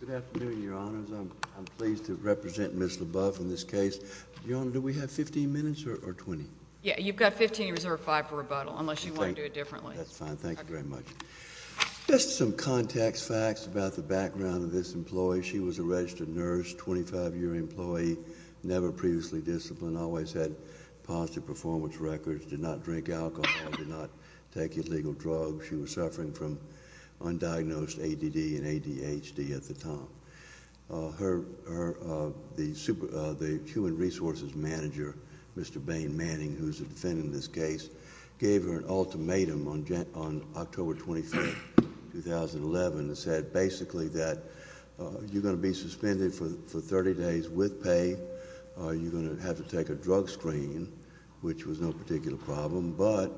Good afternoon, Your Honors. I'm pleased to represent Ms. Lebeouf in this case. Your Honor, do we have 15 minutes or 20? Yeah, you've got 15. You reserve 5 for rebuttal, unless you want to do it differently. That's fine. Thank you very much. Just some context facts about the background of this employee. She was a registered nurse, 25-year employee, never previously disciplined, always had positive performance records, did not drink alcohol, did not take illegal drugs. She was suffering from undiagnosed ADD and ADHD at the time. The human resources manager, Mr. Bain Manning, who is the defendant in this case, gave her an ultimatum on October 23, 2011 that said basically that you're going to be suspended for 30 days with pay. You're going to have to take a drug screen, which was no particular problem. But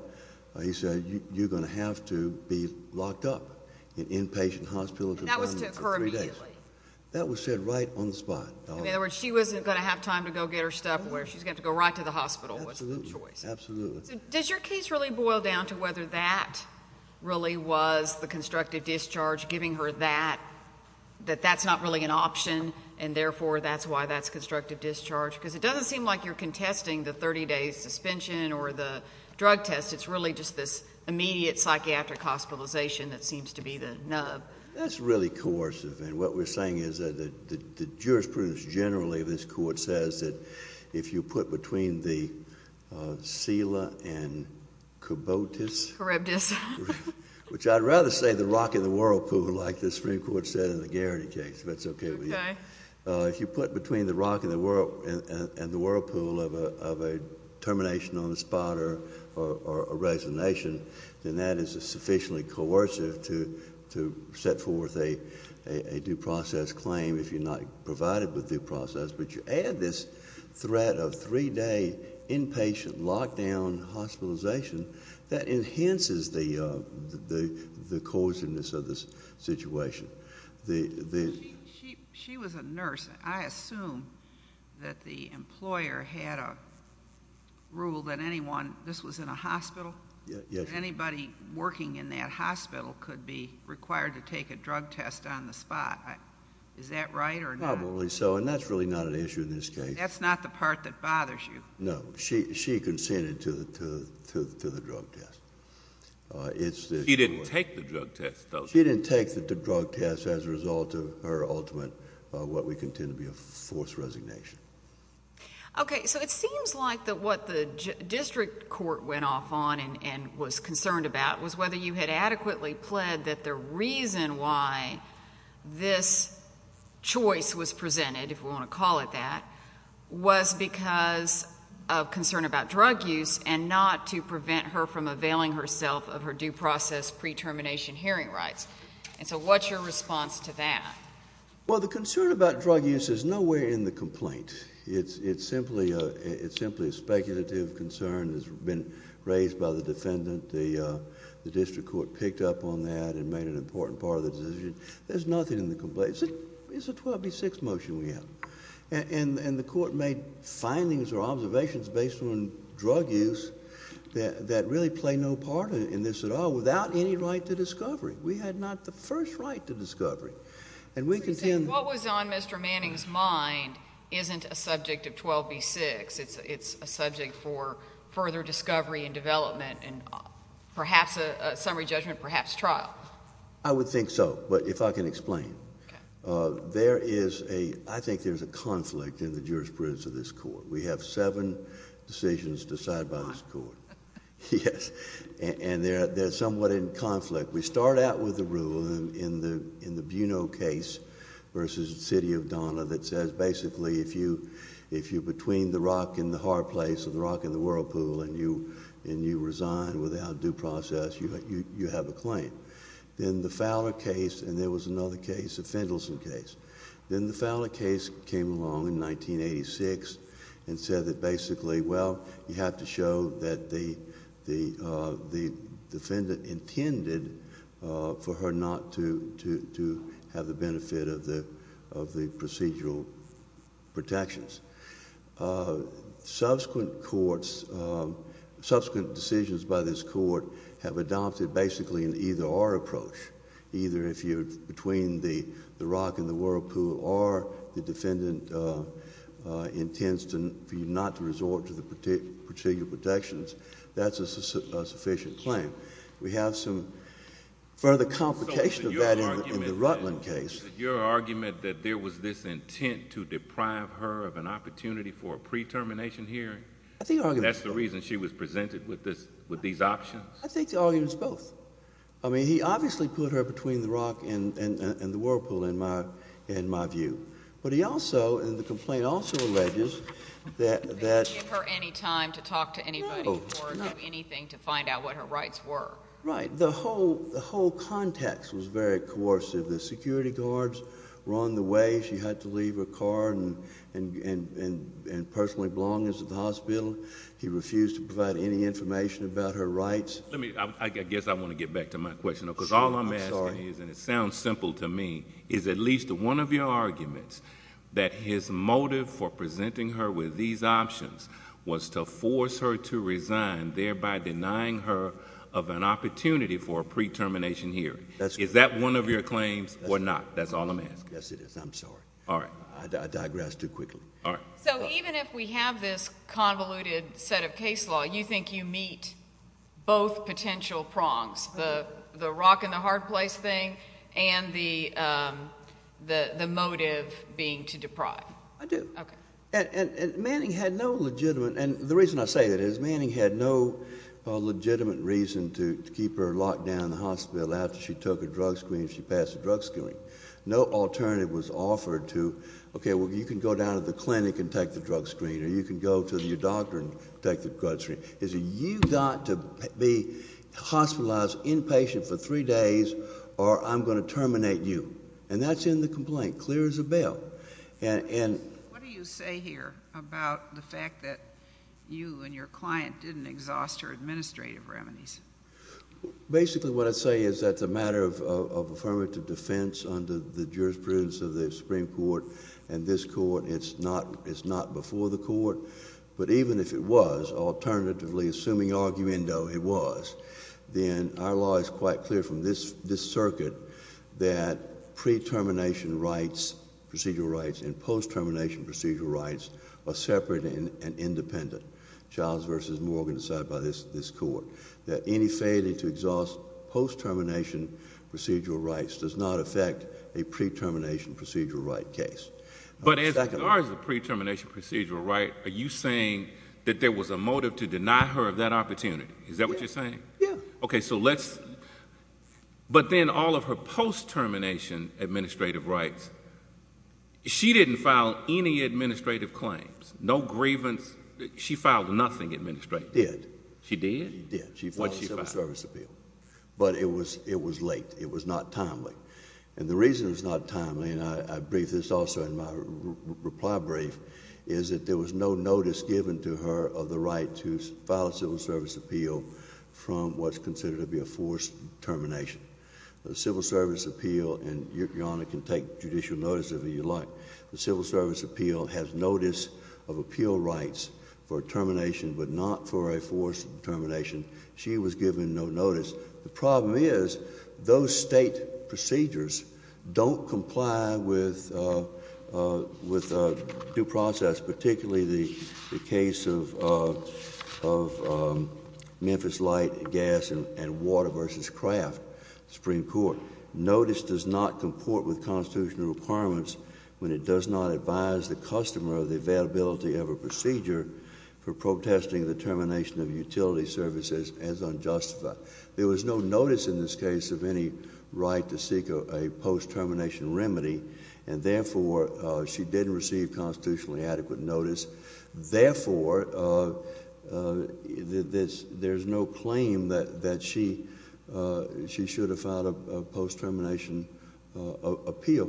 he said you're going to have to be locked up in an inpatient hospital for three days. And that was to occur immediately? That was said right on the spot. In other words, she wasn't going to have time to go get her stuff where she's going to have to go right to the hospital. Absolutely. Does your case really boil down to whether that really was the constructive discharge, giving her that, that that's not really an option and therefore that's why that's constructive discharge? Because it doesn't seem like you're contesting the 30-day suspension or the drug test. It's really just this immediate psychiatric hospitalization that seems to be the nub. That's really coercive. And what we're saying is that the jurisprudence generally of this court says that if you put between the SELA and COBOTUS. COREBTUS. Which I'd rather say the rock and the whirlpool, like the Supreme Court said in the Garrity case. If that's okay with you. Okay. If you put between the rock and the whirlpool of a termination on the spot or a resignation, then that is sufficiently coercive to set forth a due process claim if you're not provided with due process. But you add this threat of three-day inpatient lockdown hospitalization, that enhances the coerciveness of the situation. She was a nurse. I assume that the employer had a rule that anyone, this was in a hospital? Yes. Anybody working in that hospital could be required to take a drug test on the spot. Is that right or not? Probably so. And that's really not an issue in this case. That's not the part that bothers you? No. She consented to the drug test. She didn't take the drug test, though. She didn't take the drug test as a result of her ultimate what we contend to be a forced resignation. Okay. So it seems like that what the district court went off on and was concerned about was whether you had adequately pled that the reason why this choice was presented, if we want to call it that, was because of concern about drug use and not to prevent her from availing herself of her due process pre-termination hearing rights. And so what's your response to that? Well, the concern about drug use is nowhere in the complaint. It's simply a speculative concern that's been raised by the defendant. The district court picked up on that and made it an important part of the decision. There's nothing in the complaint. It's a 12B6 motion we have. And the court made findings or observations based on drug use that really play no part in this at all without any right to discovery. We had not the first right to discovery. What was on Mr. Manning's mind isn't a subject of 12B6. It's a subject for further discovery and development and perhaps a summary judgment, perhaps trial. I would think so, if I can explain. There is a... I think there's a conflict in the jurisprudence of this court. We have seven decisions decided by this court. Yes. And they're somewhat in conflict. We start out with the rule in the Buno case versus the City of Donna that says basically if you're between the rock and the hard place or the rock and the whirlpool and you resign without due process, you have a claim. Then the Fowler case and there was another case, the Fendelson case. Then the Fowler case came along in 1986 and said that basically, well, you have to show that the defendant intended for her not to have the benefit of the procedural protections. Subsequent decisions by this court have adopted basically an either-or approach. Either if you're between the rock and the whirlpool or the defendant intends for you not to resort to the procedural protections, that's a sufficient claim. We have some further complication of that in the Rutland case. Your argument that there was this intent to deprive her of an opportunity for a pre-termination hearing? I think the argument... That's the reason she was presented with these options? I think the argument is both. I mean, he obviously put her between the rock and the whirlpool in my view. But he also, in the complaint, also alleges that... He didn't give her any time to talk to anybody or do anything to find out what her rights were. Right. The whole context was very coercive. The security guards were on the way. She had to leave her car and personally belong at the hospital. He refused to provide any information about her rights. Let me... I guess I want to get back to my question, because all I'm asking is... Sure. And it sounds simple to me, is at least one of your arguments that his motive for presenting her with these options was to force her to resign, thereby denying her of an opportunity for a pre-termination hearing. That's correct. Is that one of your claims or not? That's all I'm asking. Yes, it is. I'm sorry. All right. I digress too quickly. All right. So even if we have this convoluted set of case law, you think you meet both potential prongs, the rock and the hard place thing and the motive being to deprive? I do. Okay. Manning had no legitimate... and the reason I say that is Manning had no legitimate reason to keep her locked down in the hospital after she took her drug screen and she passed the drug screening. No alternative was offered to, okay, well, you can go down to the clinic and take the drug screen, or you can go to your doctor and take the drug screen. You've got to be hospitalized, inpatient for three days, or I'm going to terminate you. And that's in the complaint, clear as a bell. And... What do you say here about the fact that you and your client didn't exhaust her administrative remedies? Basically, what I say is that the matter of affirmative defense under the jurisprudence of the Supreme Court and this court, it's not before the court. But even if it was, alternatively, assuming arguendo it was, then our law is quite clear from this circuit that pre-termination rights, procedural rights, and post-termination procedural rights are separate and independent. Charles v. Morgan decided by this court that any failure to exhaust post-termination procedural rights does not affect a pre-termination procedural right case. But as far as the pre-termination procedural right, are you saying that there was a motive to deny her of that opportunity? Is that what you're saying? Yeah. Okay. So let's... But then all of her post-termination administrative rights, she didn't file any administrative claims, no grievance. She filed nothing administratively. She did. She did? She did. She filed a civil service appeal. But it was late. It was not timely. And the reason it was not timely, and I briefed this also in my reply brief, is that there was no notice given to her of the right to file a civil service appeal from what's considered to be a forced termination. The civil service appeal, and Your Honor can take judicial notice if you'd like, the civil service appeal has notice of appeal rights for termination, but not for a forced termination. She was given no notice. The problem is those state procedures don't comply with due process, particularly the case of Memphis Light, Gas, and Water v. Craft, Supreme Court. Notice does not comport with constitutional requirements when it does not advise the customer of the availability of a procedure for protesting the termination of utility services as unjustified. There was no notice in this case of any right to seek a post-termination remedy, and therefore she didn't receive constitutionally adequate notice. Therefore, there's no claim that she should have filed a post-termination appeal.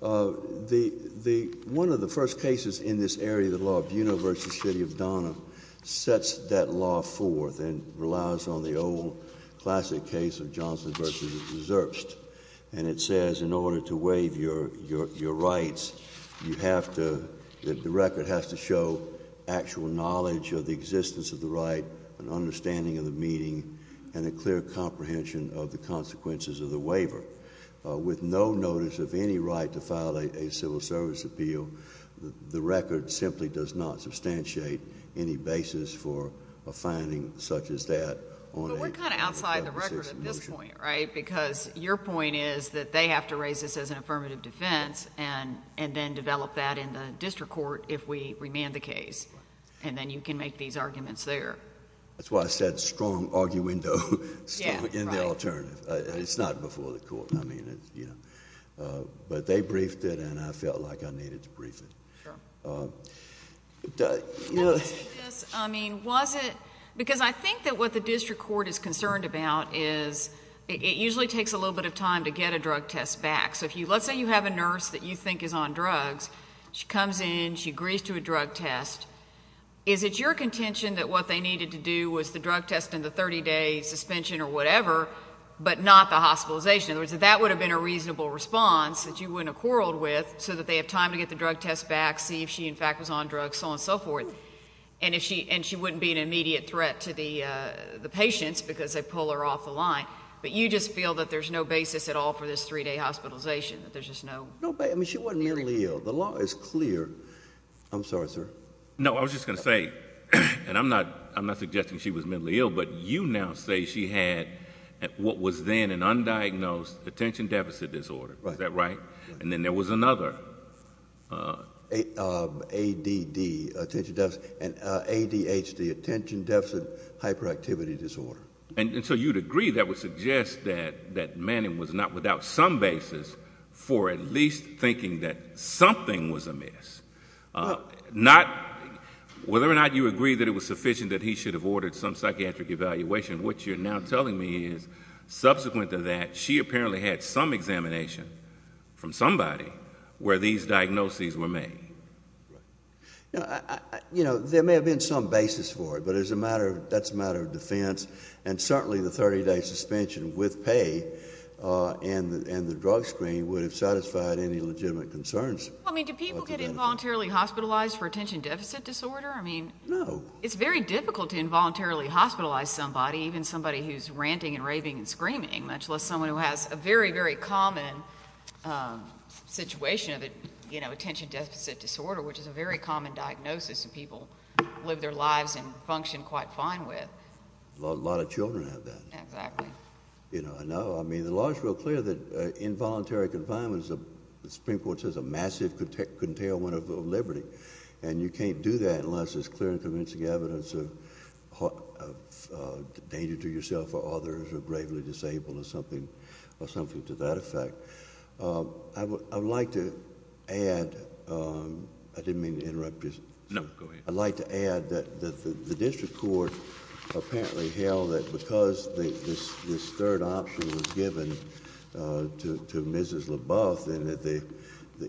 One of the first cases in this area, the law of Buena v. City of Donna, sets that law forth and relies on the old classic case of Johnson v. Zerbst. And it says in order to waive your rights, you have to, the record has to show actual knowledge of the existence of the right, an understanding of the meeting, and a clear comprehension of the consequences of the waiver. With no notice of any right to file a civil service appeal, the record simply does not substantiate any basis for a finding such as that. But we're kind of outside the record at this point, right? Because your point is that they have to raise this as an affirmative defense and then develop that in the district court if we remand the case. And then you can make these arguments there. That's why I said strong arguendo in the alternative. It's not before the court. But they briefed it, and I felt like I needed to brief it. Sure. I mean, was it? Because I think that what the district court is concerned about is it usually takes a little bit of time to get a drug test back. So let's say you have a nurse that you think is on drugs. She comes in. She agrees to a drug test. Is it your contention that what they needed to do was the drug test and the 30-day suspension or whatever, but not the hospitalization? In other words, that that would have been a reasonable response that you wouldn't have quarreled with so that they have time to get the drug test back, see if she, in fact, was on drugs, so on and so forth, and she wouldn't be an immediate threat to the patients because they pull her off the line. But you just feel that there's no basis at all for this three-day hospitalization, that there's just no basis? I mean, she wasn't mentally ill. The law is clear. I'm sorry, sir. No, I was just going to say, and I'm not suggesting she was mentally ill, but you now say she had what was then an undiagnosed attention deficit disorder. Right. Is that right? And then there was another. ADD, attention deficit, ADHD, attention deficit hyperactivity disorder. And so you'd agree that would suggest that Manning was not without some basis for at least thinking that something was amiss. Whether or not you agree that it was sufficient that he should have ordered some psychiatric evaluation, what you're now telling me is subsequent to that, she apparently had some examination from somebody where these diagnoses were made. You know, there may have been some basis for it, but that's a matter of defense, and certainly the 30-day suspension with pay and the drug screen would have satisfied any legitimate concerns. I mean, do people get involuntarily hospitalized for attention deficit disorder? No. I mean, it's very difficult to involuntarily hospitalize somebody, even somebody who's ranting and raving and screaming, much less someone who has a very, very common situation of attention deficit disorder, which is a very common diagnosis that people live their lives and function quite fine with. A lot of children have that. Exactly. I know. I mean, the law is real clear that involuntary confinement is, the Supreme Court says, a massive curtailment of liberty, and you can't do that unless there's clear and convincing evidence of danger to yourself or others who are gravely disabled or something to that effect. I would like to add... I didn't mean to interrupt you. No, go ahead. I'd like to add that the district court apparently held that because this third option was given to Mrs. LaBeouf and that the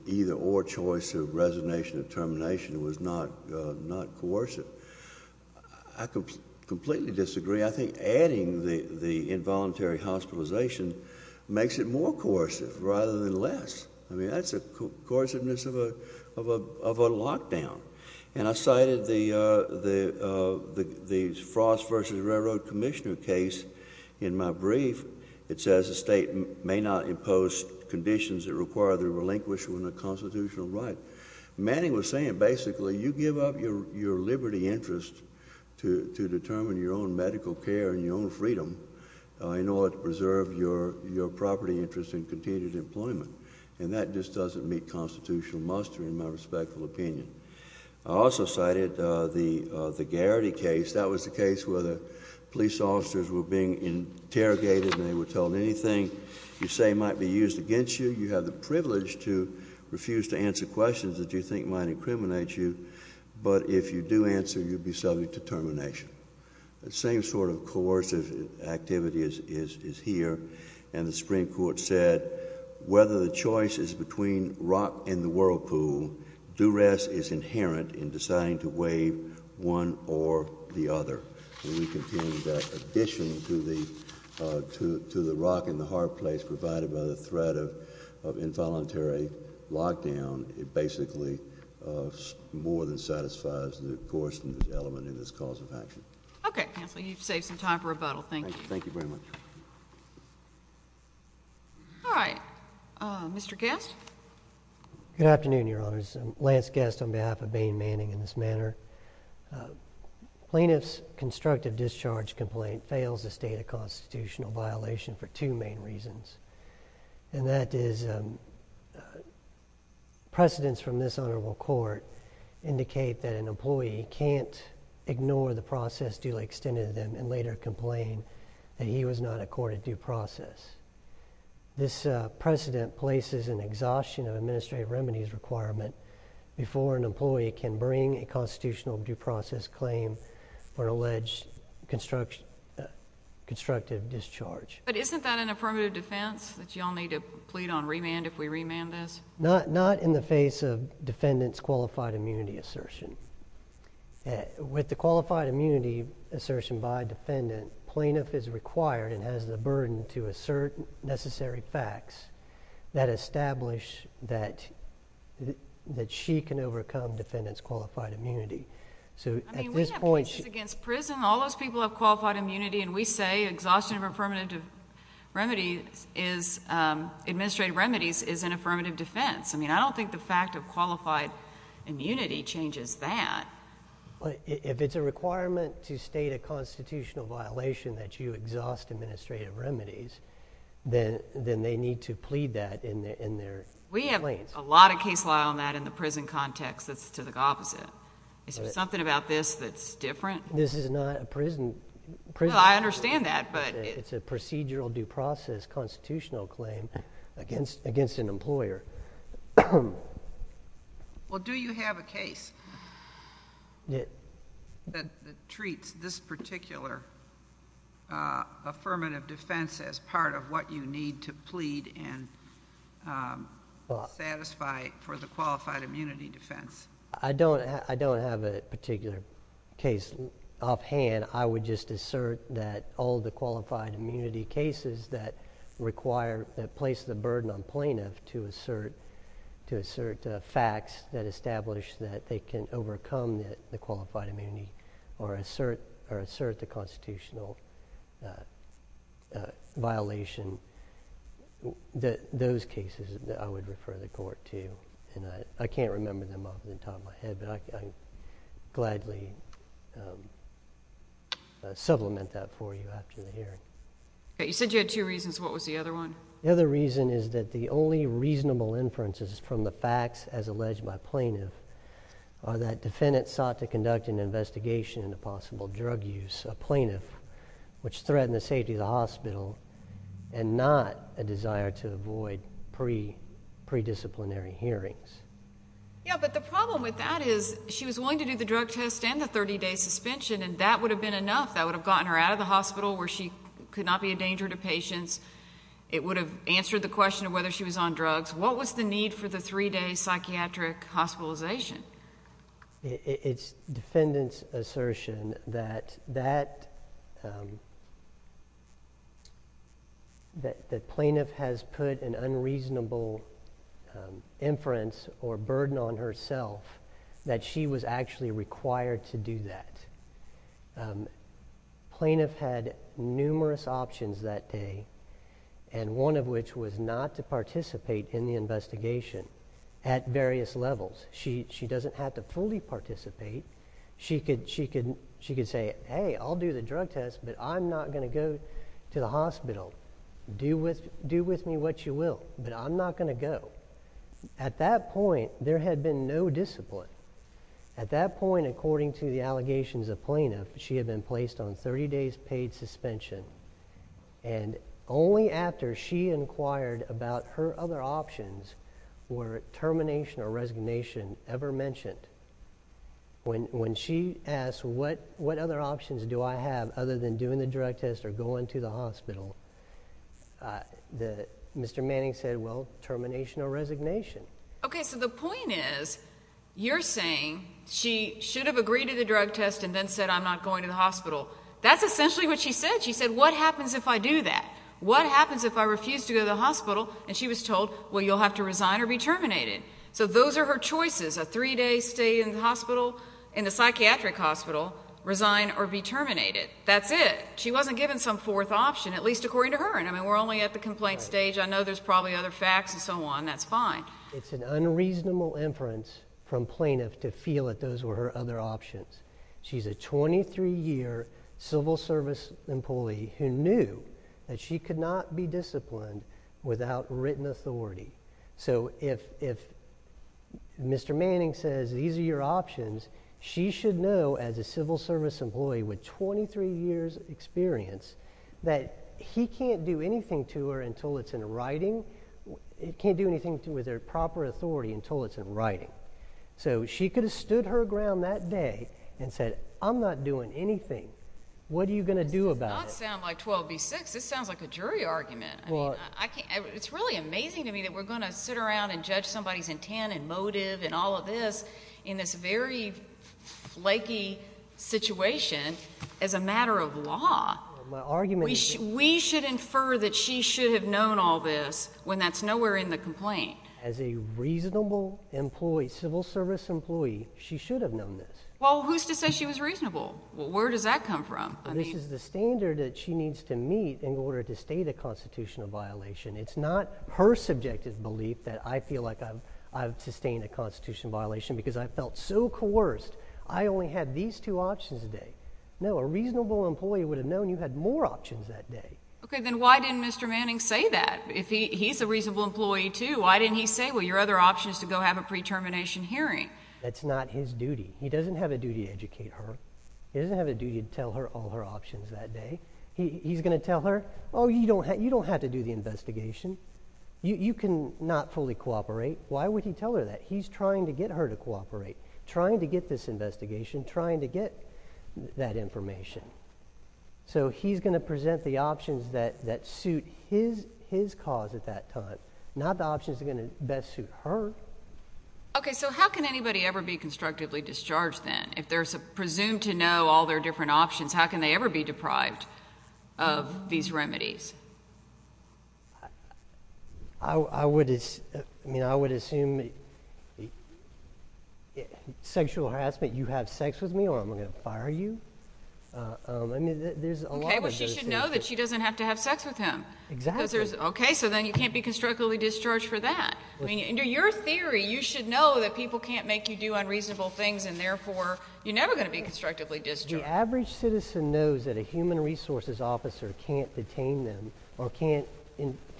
either-or choice of resignation or termination was not coercive, I completely disagree. I mean, I think adding the involuntary hospitalization makes it more coercive rather than less. I mean, that's the coerciveness of a lockdown. And I cited the Frost v. Railroad Commissioner case in my brief. It says the state may not impose conditions that require the relinquishment of constitutional right. Manning was saying basically you give up your liberty interest to determine your own medical care and your own freedom in order to preserve your property interest and continued employment, and that just doesn't meet constitutional muster in my respectful opinion. I also cited the Garrity case. That was the case where the police officers were being interrogated and they were told anything you say might be used against you. You have the privilege to refuse to answer questions that you think might incriminate you, but if you do answer, you'll be subject to termination. The same sort of coercive activity is here, and the Supreme Court said whether the choice is between rock and the whirlpool, duress is inherent in deciding to waive one or the other. We contend that in addition to the rock and the hard place provided by the threat of involuntary lockdown, it basically more than satisfies the coerciveness element in this cause of action. Okay, Counselor, you've saved some time for rebuttal. Thank you. Thank you very much. All right. Mr. Guest? Good afternoon, Your Honors. Lance Guest on behalf of Bain Manning in this manner. Plaintiff's constructive discharge complaint fails the state of constitutional violation for two main reasons, and that is precedents from this honorable court indicate that an employee can't ignore the process duly extended to them and later complain that he was not accorded due process. This precedent places an exhaustion of administrative remedies requirement before an employee can bring a constitutional due process claim for an alleged constructive discharge. But isn't that an affirmative defense that you all need to plead on remand if we remand this? Not in the face of defendant's qualified immunity assertion. With the qualified immunity assertion by defendant, plaintiff is required and has the burden to assert necessary facts that establish that she can overcome defendant's qualified immunity. So at this point... I mean, we have cases against prison. All those people have qualified immunity, and we say exhaustion of affirmative remedies is... administrative remedies is an affirmative defense. I mean, I don't think the fact of qualified immunity changes that. But if it's a requirement to state a constitutional violation that you exhaust administrative remedies, then they need to plead that in their claims. We have a lot of case law on that in the prison context that's to the opposite. Is there something about this that's different? This is not a prison... Well, I understand that, but... It's a procedural due process constitutional claim against an employer. Well, do you have a case that treats this particular affirmative defense as part of what you need to plead and satisfy for the qualified immunity defense? I don't have a particular case offhand. Again, I would just assert that all the qualified immunity cases that require... that place the burden on plaintiff to assert... to assert facts that establish that they can overcome the qualified immunity or assert the constitutional violation... those cases that I would refer the court to. I can't remember them off the top of my head, but I can gladly supplement that for you after the hearing. Okay. You said you had two reasons. What was the other one? The other reason is that the only reasonable inferences from the facts as alleged by plaintiff are that defendant sought to conduct an investigation into possible drug use, a plaintiff, which threatened the safety of the hospital and not a desire to avoid pre-disciplinary hearings. Yeah, but the problem with that is she was willing to do the drug test and the 30-day suspension, and that would have been enough. That would have gotten her out of the hospital where she could not be a danger to patients. It would have answered the question of whether she was on drugs. What was the need for the three-day psychiatric hospitalization? It's defendant's assertion that plaintiff has put an unreasonable inference or burden on herself that she was actually required to do that. Plaintiff had numerous options that day, and one of which was not to participate in the investigation at various levels. She doesn't have to fully participate. She could say, hey, I'll do the drug test, but I'm not going to go to the hospital. Do with me what you will, but I'm not going to go. At that point, there had been no discipline. At that point, according to the allegations of plaintiff, she had been placed on 30-days paid suspension, and only after she inquired about her other options were termination or resignation ever mentioned. When she asked what other options do I have other than doing the drug test or going to the hospital, Mr. Manning said, well, termination or resignation. Okay, so the point is you're saying she should have agreed to the drug test and then said, I'm not going to the hospital. That's essentially what she said. She said, what happens if I do that? What happens if I refuse to go to the hospital? And she was told, well, you'll have to resign or be terminated. So those are her choices, a 3-day stay in the psychiatric hospital, resign or be terminated. That's it. She wasn't given some fourth option, at least according to her. I mean, we're only at the complaint stage. I know there's probably other facts and so on. That's fine. It's an unreasonable inference from plaintiff to feel that those were her other options. She's a 23-year civil service employee who knew that she could not be disciplined without written authority. So if Mr. Manning says these are your options, she should know as a civil service employee with 23 years' experience that he can't do anything to her until it's in writing. He can't do anything with her proper authority until it's in writing. So she could have stood her ground that day and said, I'm not doing anything. What are you going to do about it? That does not sound like 12 v. 6. This sounds like a jury argument. I mean, it's really amazing to me that we're going to sit around and judge somebody's intent and motive and all of this in this very flaky situation as a matter of law. We should infer that she should have known all this when that's nowhere in the complaint. As a reasonable employee, civil service employee, she should have known this. Well, who's to say she was reasonable? Where does that come from? This is the standard that she needs to meet in order to state a constitutional violation. It's not her subjective belief that I feel like I've sustained a constitutional violation because I felt so coerced. I only had these two options today. No, a reasonable employee would have known you had more options that day. Okay, then why didn't Mr. Manning say that? He's a reasonable employee too. Why didn't he say, well, your other option is to go have a pre-termination hearing? That's not his duty. He doesn't have a duty to educate her. He doesn't have a duty to tell her all her options that day. He's going to tell her, oh, you don't have to do the investigation. You cannot fully cooperate. Why would he tell her that? He's trying to get her to cooperate, trying to get this investigation, trying to get that information. So he's going to present the options that suit his cause at that time, not the options that are going to best suit her. Okay, so how can anybody ever be constructively discharged then? If they're presumed to know all their different options, how can they ever be deprived of these remedies? I would assume sexual harassment, you have sex with me or I'm going to fire you. Okay, well, she should know that she doesn't have to have sex with him. Exactly. Okay, so then you can't be constructively discharged for that. Under your theory, you should know that people can't make you do unreasonable things, and therefore you're never going to be constructively discharged. The average citizen knows that a human resources officer can't detain them or can't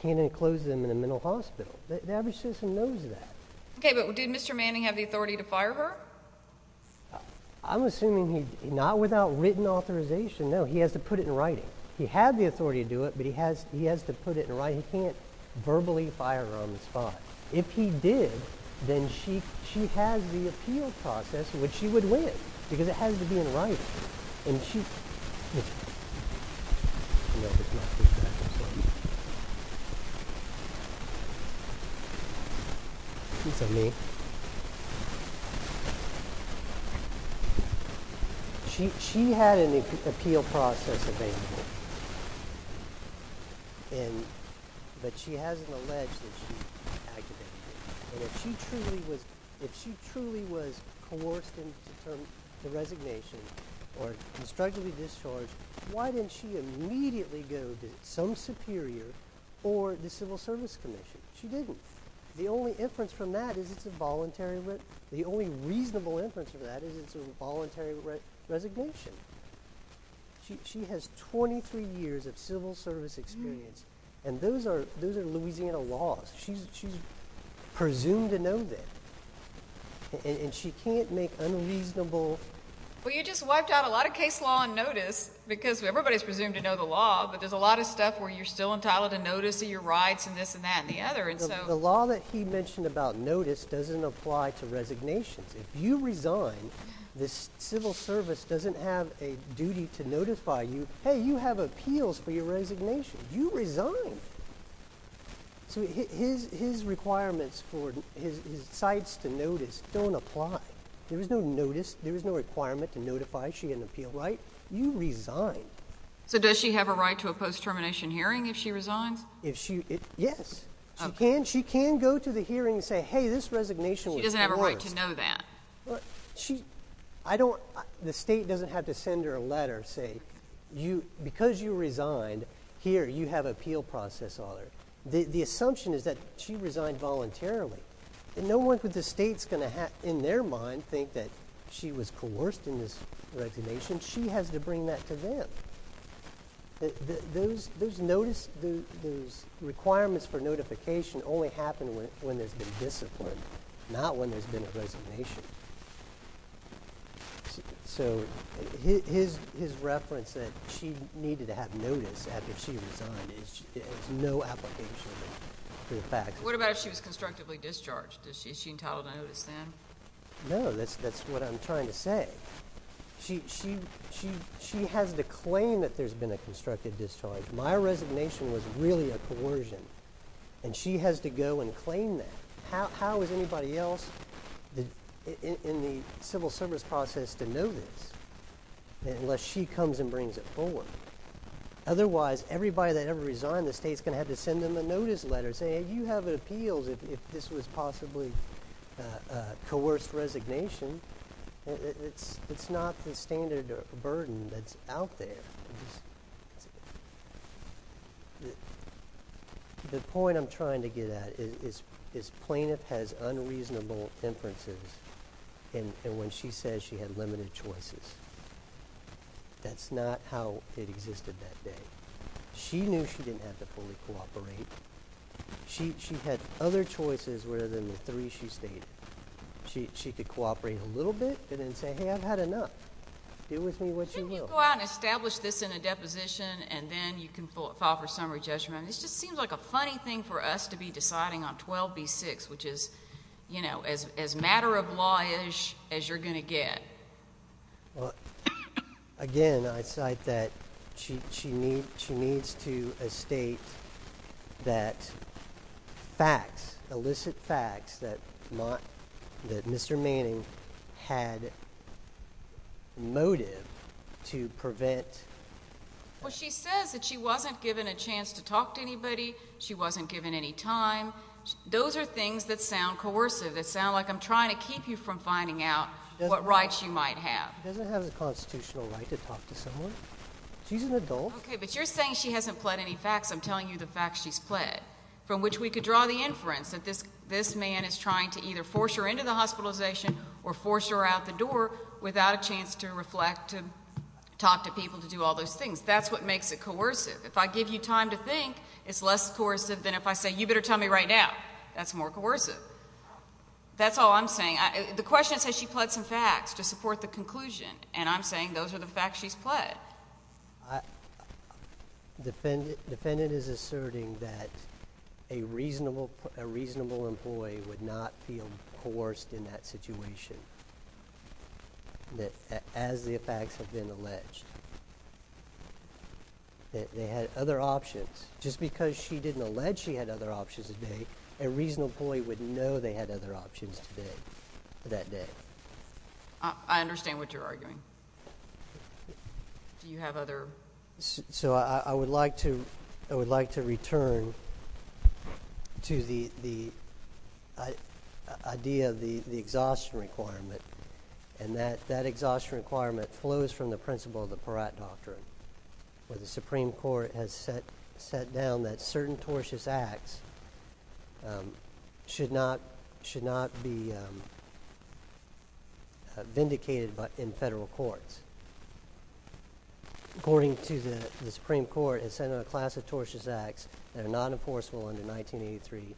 enclose them in a mental hospital. The average citizen knows that. Okay, but did Mr. Manning have the authority to fire her? I'm assuming not without written authorization, no. He has to put it in writing. He had the authority to do it, but he has to put it in writing. He can't verbally fire her on the spot. If he did, then she has the appeal process, which she would win because it has to be in writing. She had an appeal process available. But she hasn't alleged that she acted that way. If she truly was coerced into the resignation or constructively discharged, why didn't she immediately go to some superior or the Civil Service Commission? She didn't. The only inference from that is it's a voluntary—the only reasonable inference from that is it's a voluntary resignation. She has 23 years of Civil Service experience, and those are Louisiana laws. She's presumed to know that, and she can't make unreasonable— Well, you just wiped out a lot of case law and notice because everybody's presumed to know the law, but there's a lot of stuff where you're still entitled to notice of your rights and this and that and the other. The law that he mentioned about notice doesn't apply to resignations. If you resign, the Civil Service doesn't have a duty to notify you, hey, you have appeals for your resignation. You resign. So his requirements for his sites to notice don't apply. There is no notice. There is no requirement to notify she had an appeal right. You resign. So does she have a right to a post-termination hearing if she resigns? Yes. She can. She can go to the hearing and say, hey, this resignation was coerced. She doesn't have a right to know that. Well, she—I don't—the state doesn't have to send her a letter and say, because you resigned, here, you have an appeal process on her. The assumption is that she resigned voluntarily, and no one in the state's going to, in their mind, think that she was coerced in this resignation. She has to bring that to them. Those requirements for notification only happen when there's been discipline, not when there's been a resignation. So his reference that she needed to have notice after she resigned, there's no application for the fact. What about if she was constructively discharged? Is she entitled to notice then? No, that's what I'm trying to say. She has to claim that there's been a constructive discharge. My resignation was really a coercion, and she has to go and claim that. How is anybody else in the civil service process to notice unless she comes and brings it forward? Otherwise, everybody that ever resigned, the state's going to have to send them a notice letter saying, hey, you have an appeal if this was possibly a coerced resignation. It's not the standard burden that's out there. The point I'm trying to get at is plaintiff has unreasonable inferences, and when she says she had limited choices, that's not how it existed that day. She knew she didn't have to fully cooperate. She had other choices rather than the three she stated. She could cooperate a little bit and then say, hey, I've had enough. Do with me what you will. Go out and establish this in a deposition, and then you can file for summary judgment. This just seems like a funny thing for us to be deciding on 12b-6, which is as matter-of-law-ish as you're going to get. Again, I cite that she needs to state that facts, illicit facts, that Mr. Manning had motive to prevent. Well, she says that she wasn't given a chance to talk to anybody. She wasn't given any time. Those are things that sound coercive, that sound like I'm trying to keep you from finding out what rights you might have. She doesn't have the constitutional right to talk to someone. She's an adult. Okay, but you're saying she hasn't pled any facts. I'm telling you the facts she's pled, from which we could draw the inference that this man is trying to either force her into the hospitalization or force her out the door without a chance to reflect, to talk to people, to do all those things. That's what makes it coercive. If I give you time to think, it's less coercive than if I say, you better tell me right now. That's more coercive. That's all I'm saying. The question says she pled some facts to support the conclusion, and I'm saying those are the facts she's pled. Defendant is asserting that a reasonable employee would not feel coerced in that situation as the facts have been alleged. They had other options. Just because she didn't allege she had other options today, a reasonable employee would know they had other options today, that day. I understand what you're arguing. Do you have other? So I would like to return to the idea of the exhaustion requirement, and that exhaustion requirement flows from the principle of the Peratt Doctrine, where the Supreme Court has set down that certain tortious acts should not be vindicated in federal courts. According to the Supreme Court, it's set up a class of tortious acts that are not enforceable under 1983,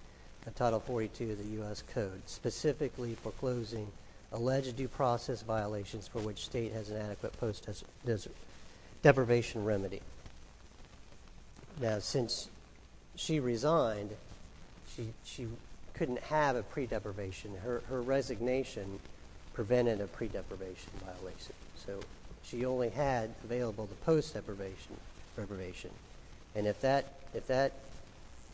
Title 42 of the U.S. Code, specifically foreclosing alleged due process violations for which state has an adequate post-depravation remedy. Now, since she resigned, she couldn't have a pre-depravation. Her resignation prevented a pre-depravation violation. So she only had available the post-depravation. And if that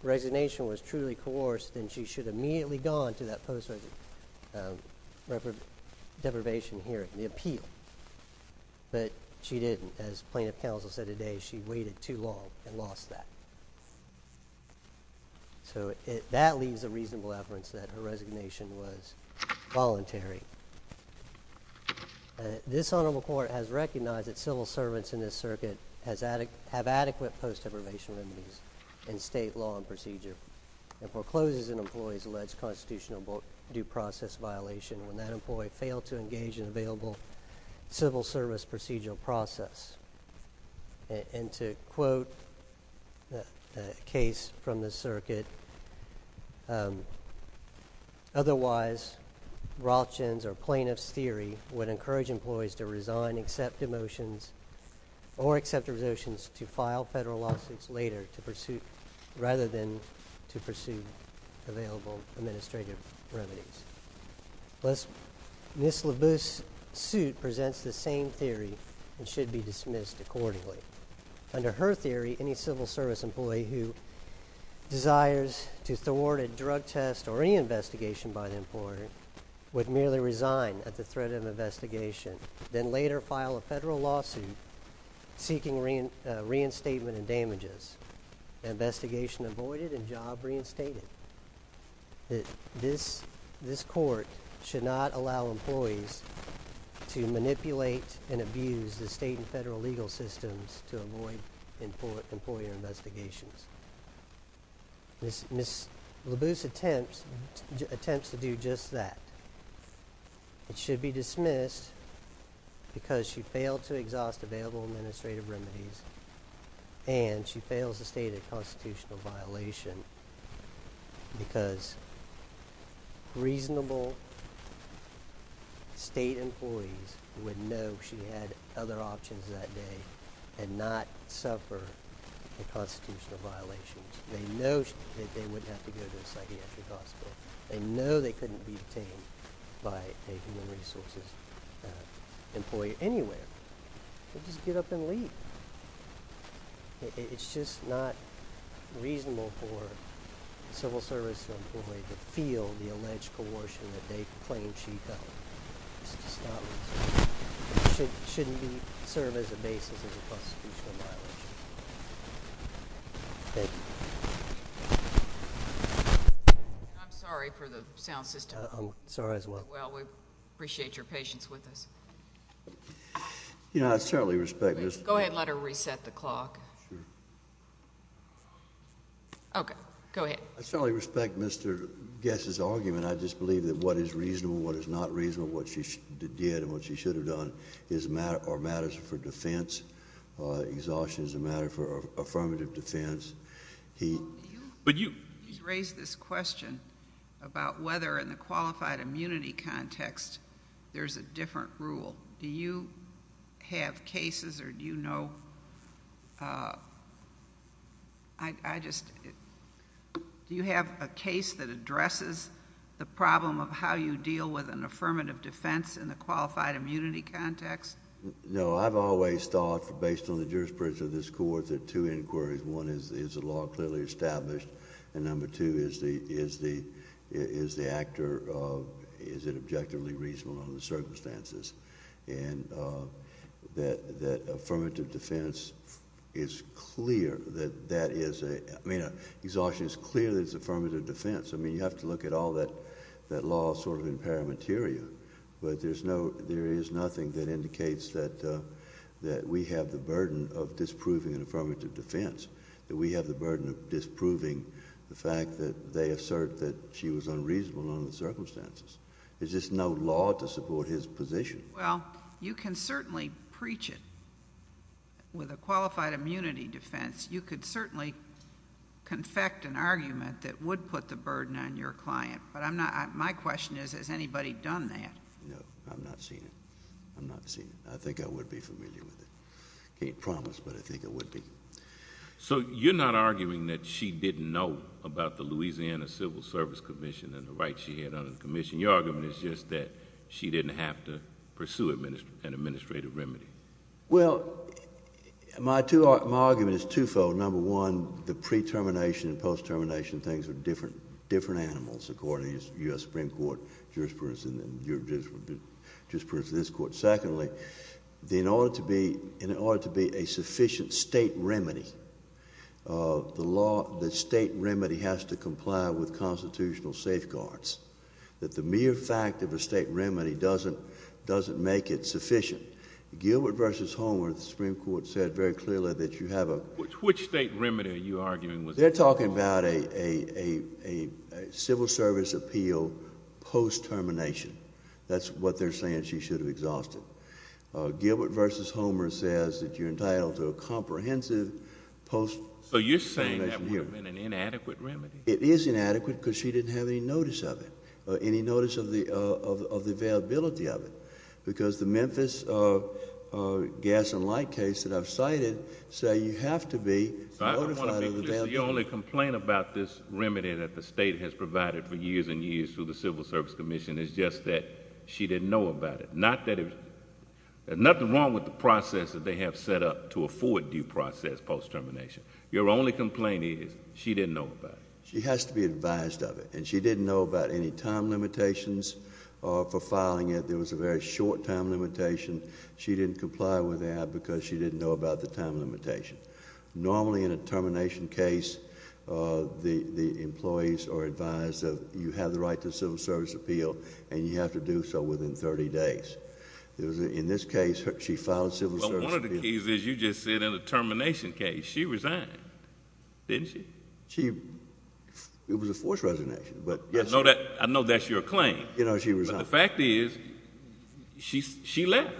resignation was truly coerced, then she should have immediately gone to that post-depravation hearing, the appeal. But she didn't. As plaintiff counsel said today, she waited too long and lost that. So that leaves a reasonable evidence that her resignation was voluntary. This honorable court has recognized that civil servants in this circuit have adequate post-depravation remedies in state law and procedure and forecloses an employee's alleged constitutional due process violation when that employee failed to engage in available civil service procedural process. And to quote a case from the circuit, otherwise Rothschild's or plaintiff's theory would encourage employees to resign, accept demotions, or accept revocations to file federal lawsuits later to pursue rather than to pursue available administrative remedies. Ms. Labuse's suit presents the same theory and should be dismissed accordingly. Under her theory, any civil service employee who desires to thwart a drug test or any investigation by the employee would merely resign at the threat of investigation, then later file a federal lawsuit seeking reinstatement and damages. Investigation avoided and job reinstated. This court should not allow employees to manipulate and abuse the state and federal legal systems to avoid employee investigations. Ms. Labuse attempts to do just that. It should be dismissed because she failed to exhaust available administrative remedies and she fails to state a constitutional violation. Because reasonable state employees would know she had other options that day and not suffer the constitutional violations. They know that they wouldn't have to go to a psychiatric hospital. They know they couldn't be detained by a human resources employee anywhere. It's just not reasonable for a civil service employee to feel the alleged coercion that they claim she held. It's just not reasonable. It shouldn't serve as a basis of a constitutional violation. Thank you. I'm sorry for the sound system. I'm sorry as well. Well, we appreciate your patience with us. Yeah, I certainly respect Ms. Labuse. Go ahead and let her reset the clock. Okay. Go ahead. I certainly respect Mr. Guess's argument. I just believe that what is reasonable, what is not reasonable, what she did and what she should have done are matters for defense. Exhaustion is a matter for affirmative defense. He's raised this question about whether in the qualified immunity context there's a different rule. Do you have cases or do you know... Do you have a case that addresses the problem of how you deal with an affirmative defense in the qualified immunity context? No. I've always thought, based on the jurisprudence of this Court, there are two inquiries. One is, is the law clearly established? And number two, is the actor... is it objectively reasonable under the circumstances? And that affirmative defense is clear that that is a... I mean, exhaustion is clear that it's affirmative defense. I mean, you have to look at all that law sort of in paramateria, but there is nothing that indicates that we have the burden of disproving an affirmative defense. That we have the burden of disproving the fact that they assert that she was unreasonable under the circumstances. There's just no law to support his position. Well, you can certainly preach it. With a qualified immunity defense, you could certainly confect an argument that would put the burden on your client. But I'm not... my question is, has anybody done that? No, I've not seen it. I've not seen it. I think I would be familiar with it. I can't promise, but I think I would be. So, you're not arguing that she didn't know about the Louisiana Civil Service Commission and the rights she had under the commission? Your argument is just that she didn't have to pursue an administrative remedy? Well, my argument is twofold. Number one, the pre-termination and post-termination things are different animals, according to the U.S. Supreme Court jurisprudence and the jurisprudence of this court. Secondly, in order to be a sufficient state remedy, the state remedy has to comply with constitutional safeguards. That the mere fact of a state remedy doesn't make it sufficient. Gilbert v. Homer, the Supreme Court said very clearly that you have a... Which state remedy are you arguing was... They're talking about a civil service appeal post-termination. That's what they're saying she should have exhausted. Gilbert v. Homer says that you're entitled to a comprehensive post-termination hearing. So, you're saying that would have been an inadequate remedy? It is inadequate because she didn't have any notice of it, any notice of the availability of it. Because the Memphis gas and light case that I've cited say you have to be notified of the availability. Your only complaint about this remedy that the state has provided for years and years through the Civil Service Commission is just that she didn't know about it. Not that there's nothing wrong with the process that they have set up to afford due process post-termination. Your only complaint is she didn't know about it. She has to be advised of it. And she didn't know about any time limitations for filing it. There was a very short time limitation. She didn't comply with that because she didn't know about the time limitation. Normally, in a termination case, the employees are advised that you have the right to a civil service appeal, and you have to do so within 30 days. In this case, she filed a civil service appeal. Well, one of the keys is you just said in a termination case, she resigned. Didn't she? It was a forced resignation. I know that's your claim. You know, she resigned. But the fact is, she left.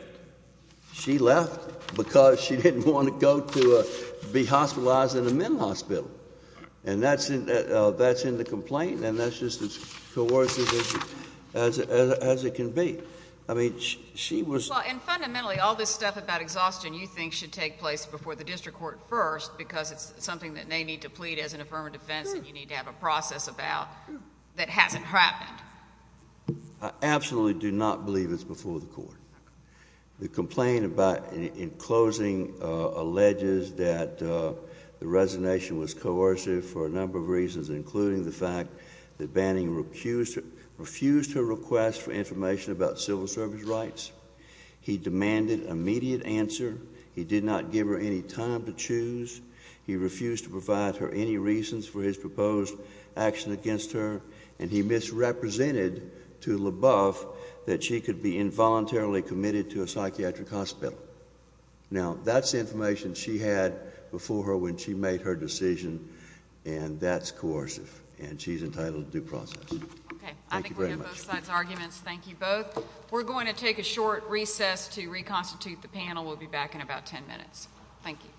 She left because she didn't want to go to be hospitalized in a men's hospital. And that's in the complaint, and that's just as coercive as it can be. I mean, she was— Well, and fundamentally, all this stuff about exhaustion you think should take place before the district court first because it's something that they need to plead as an affirmative defense that you need to have a process about that hasn't happened. I absolutely do not believe it's before the court. The complaint in closing alleges that the resignation was coercive for a number of reasons, including the fact that Banning refused her request for information about civil service rights. He demanded immediate answer. He did not give her any time to choose. He refused to provide her any reasons for his proposed action against her, and he misrepresented to LaBeouf that she could be involuntarily committed to a psychiatric hospital. Now, that's the information she had before her when she made her decision, and that's coercive, and she's entitled to due process. Okay. Thank you very much. I think we have both sides' arguments. Thank you both. We're going to take a short recess to reconstitute the panel. We'll be back in about 10 minutes. Thank you.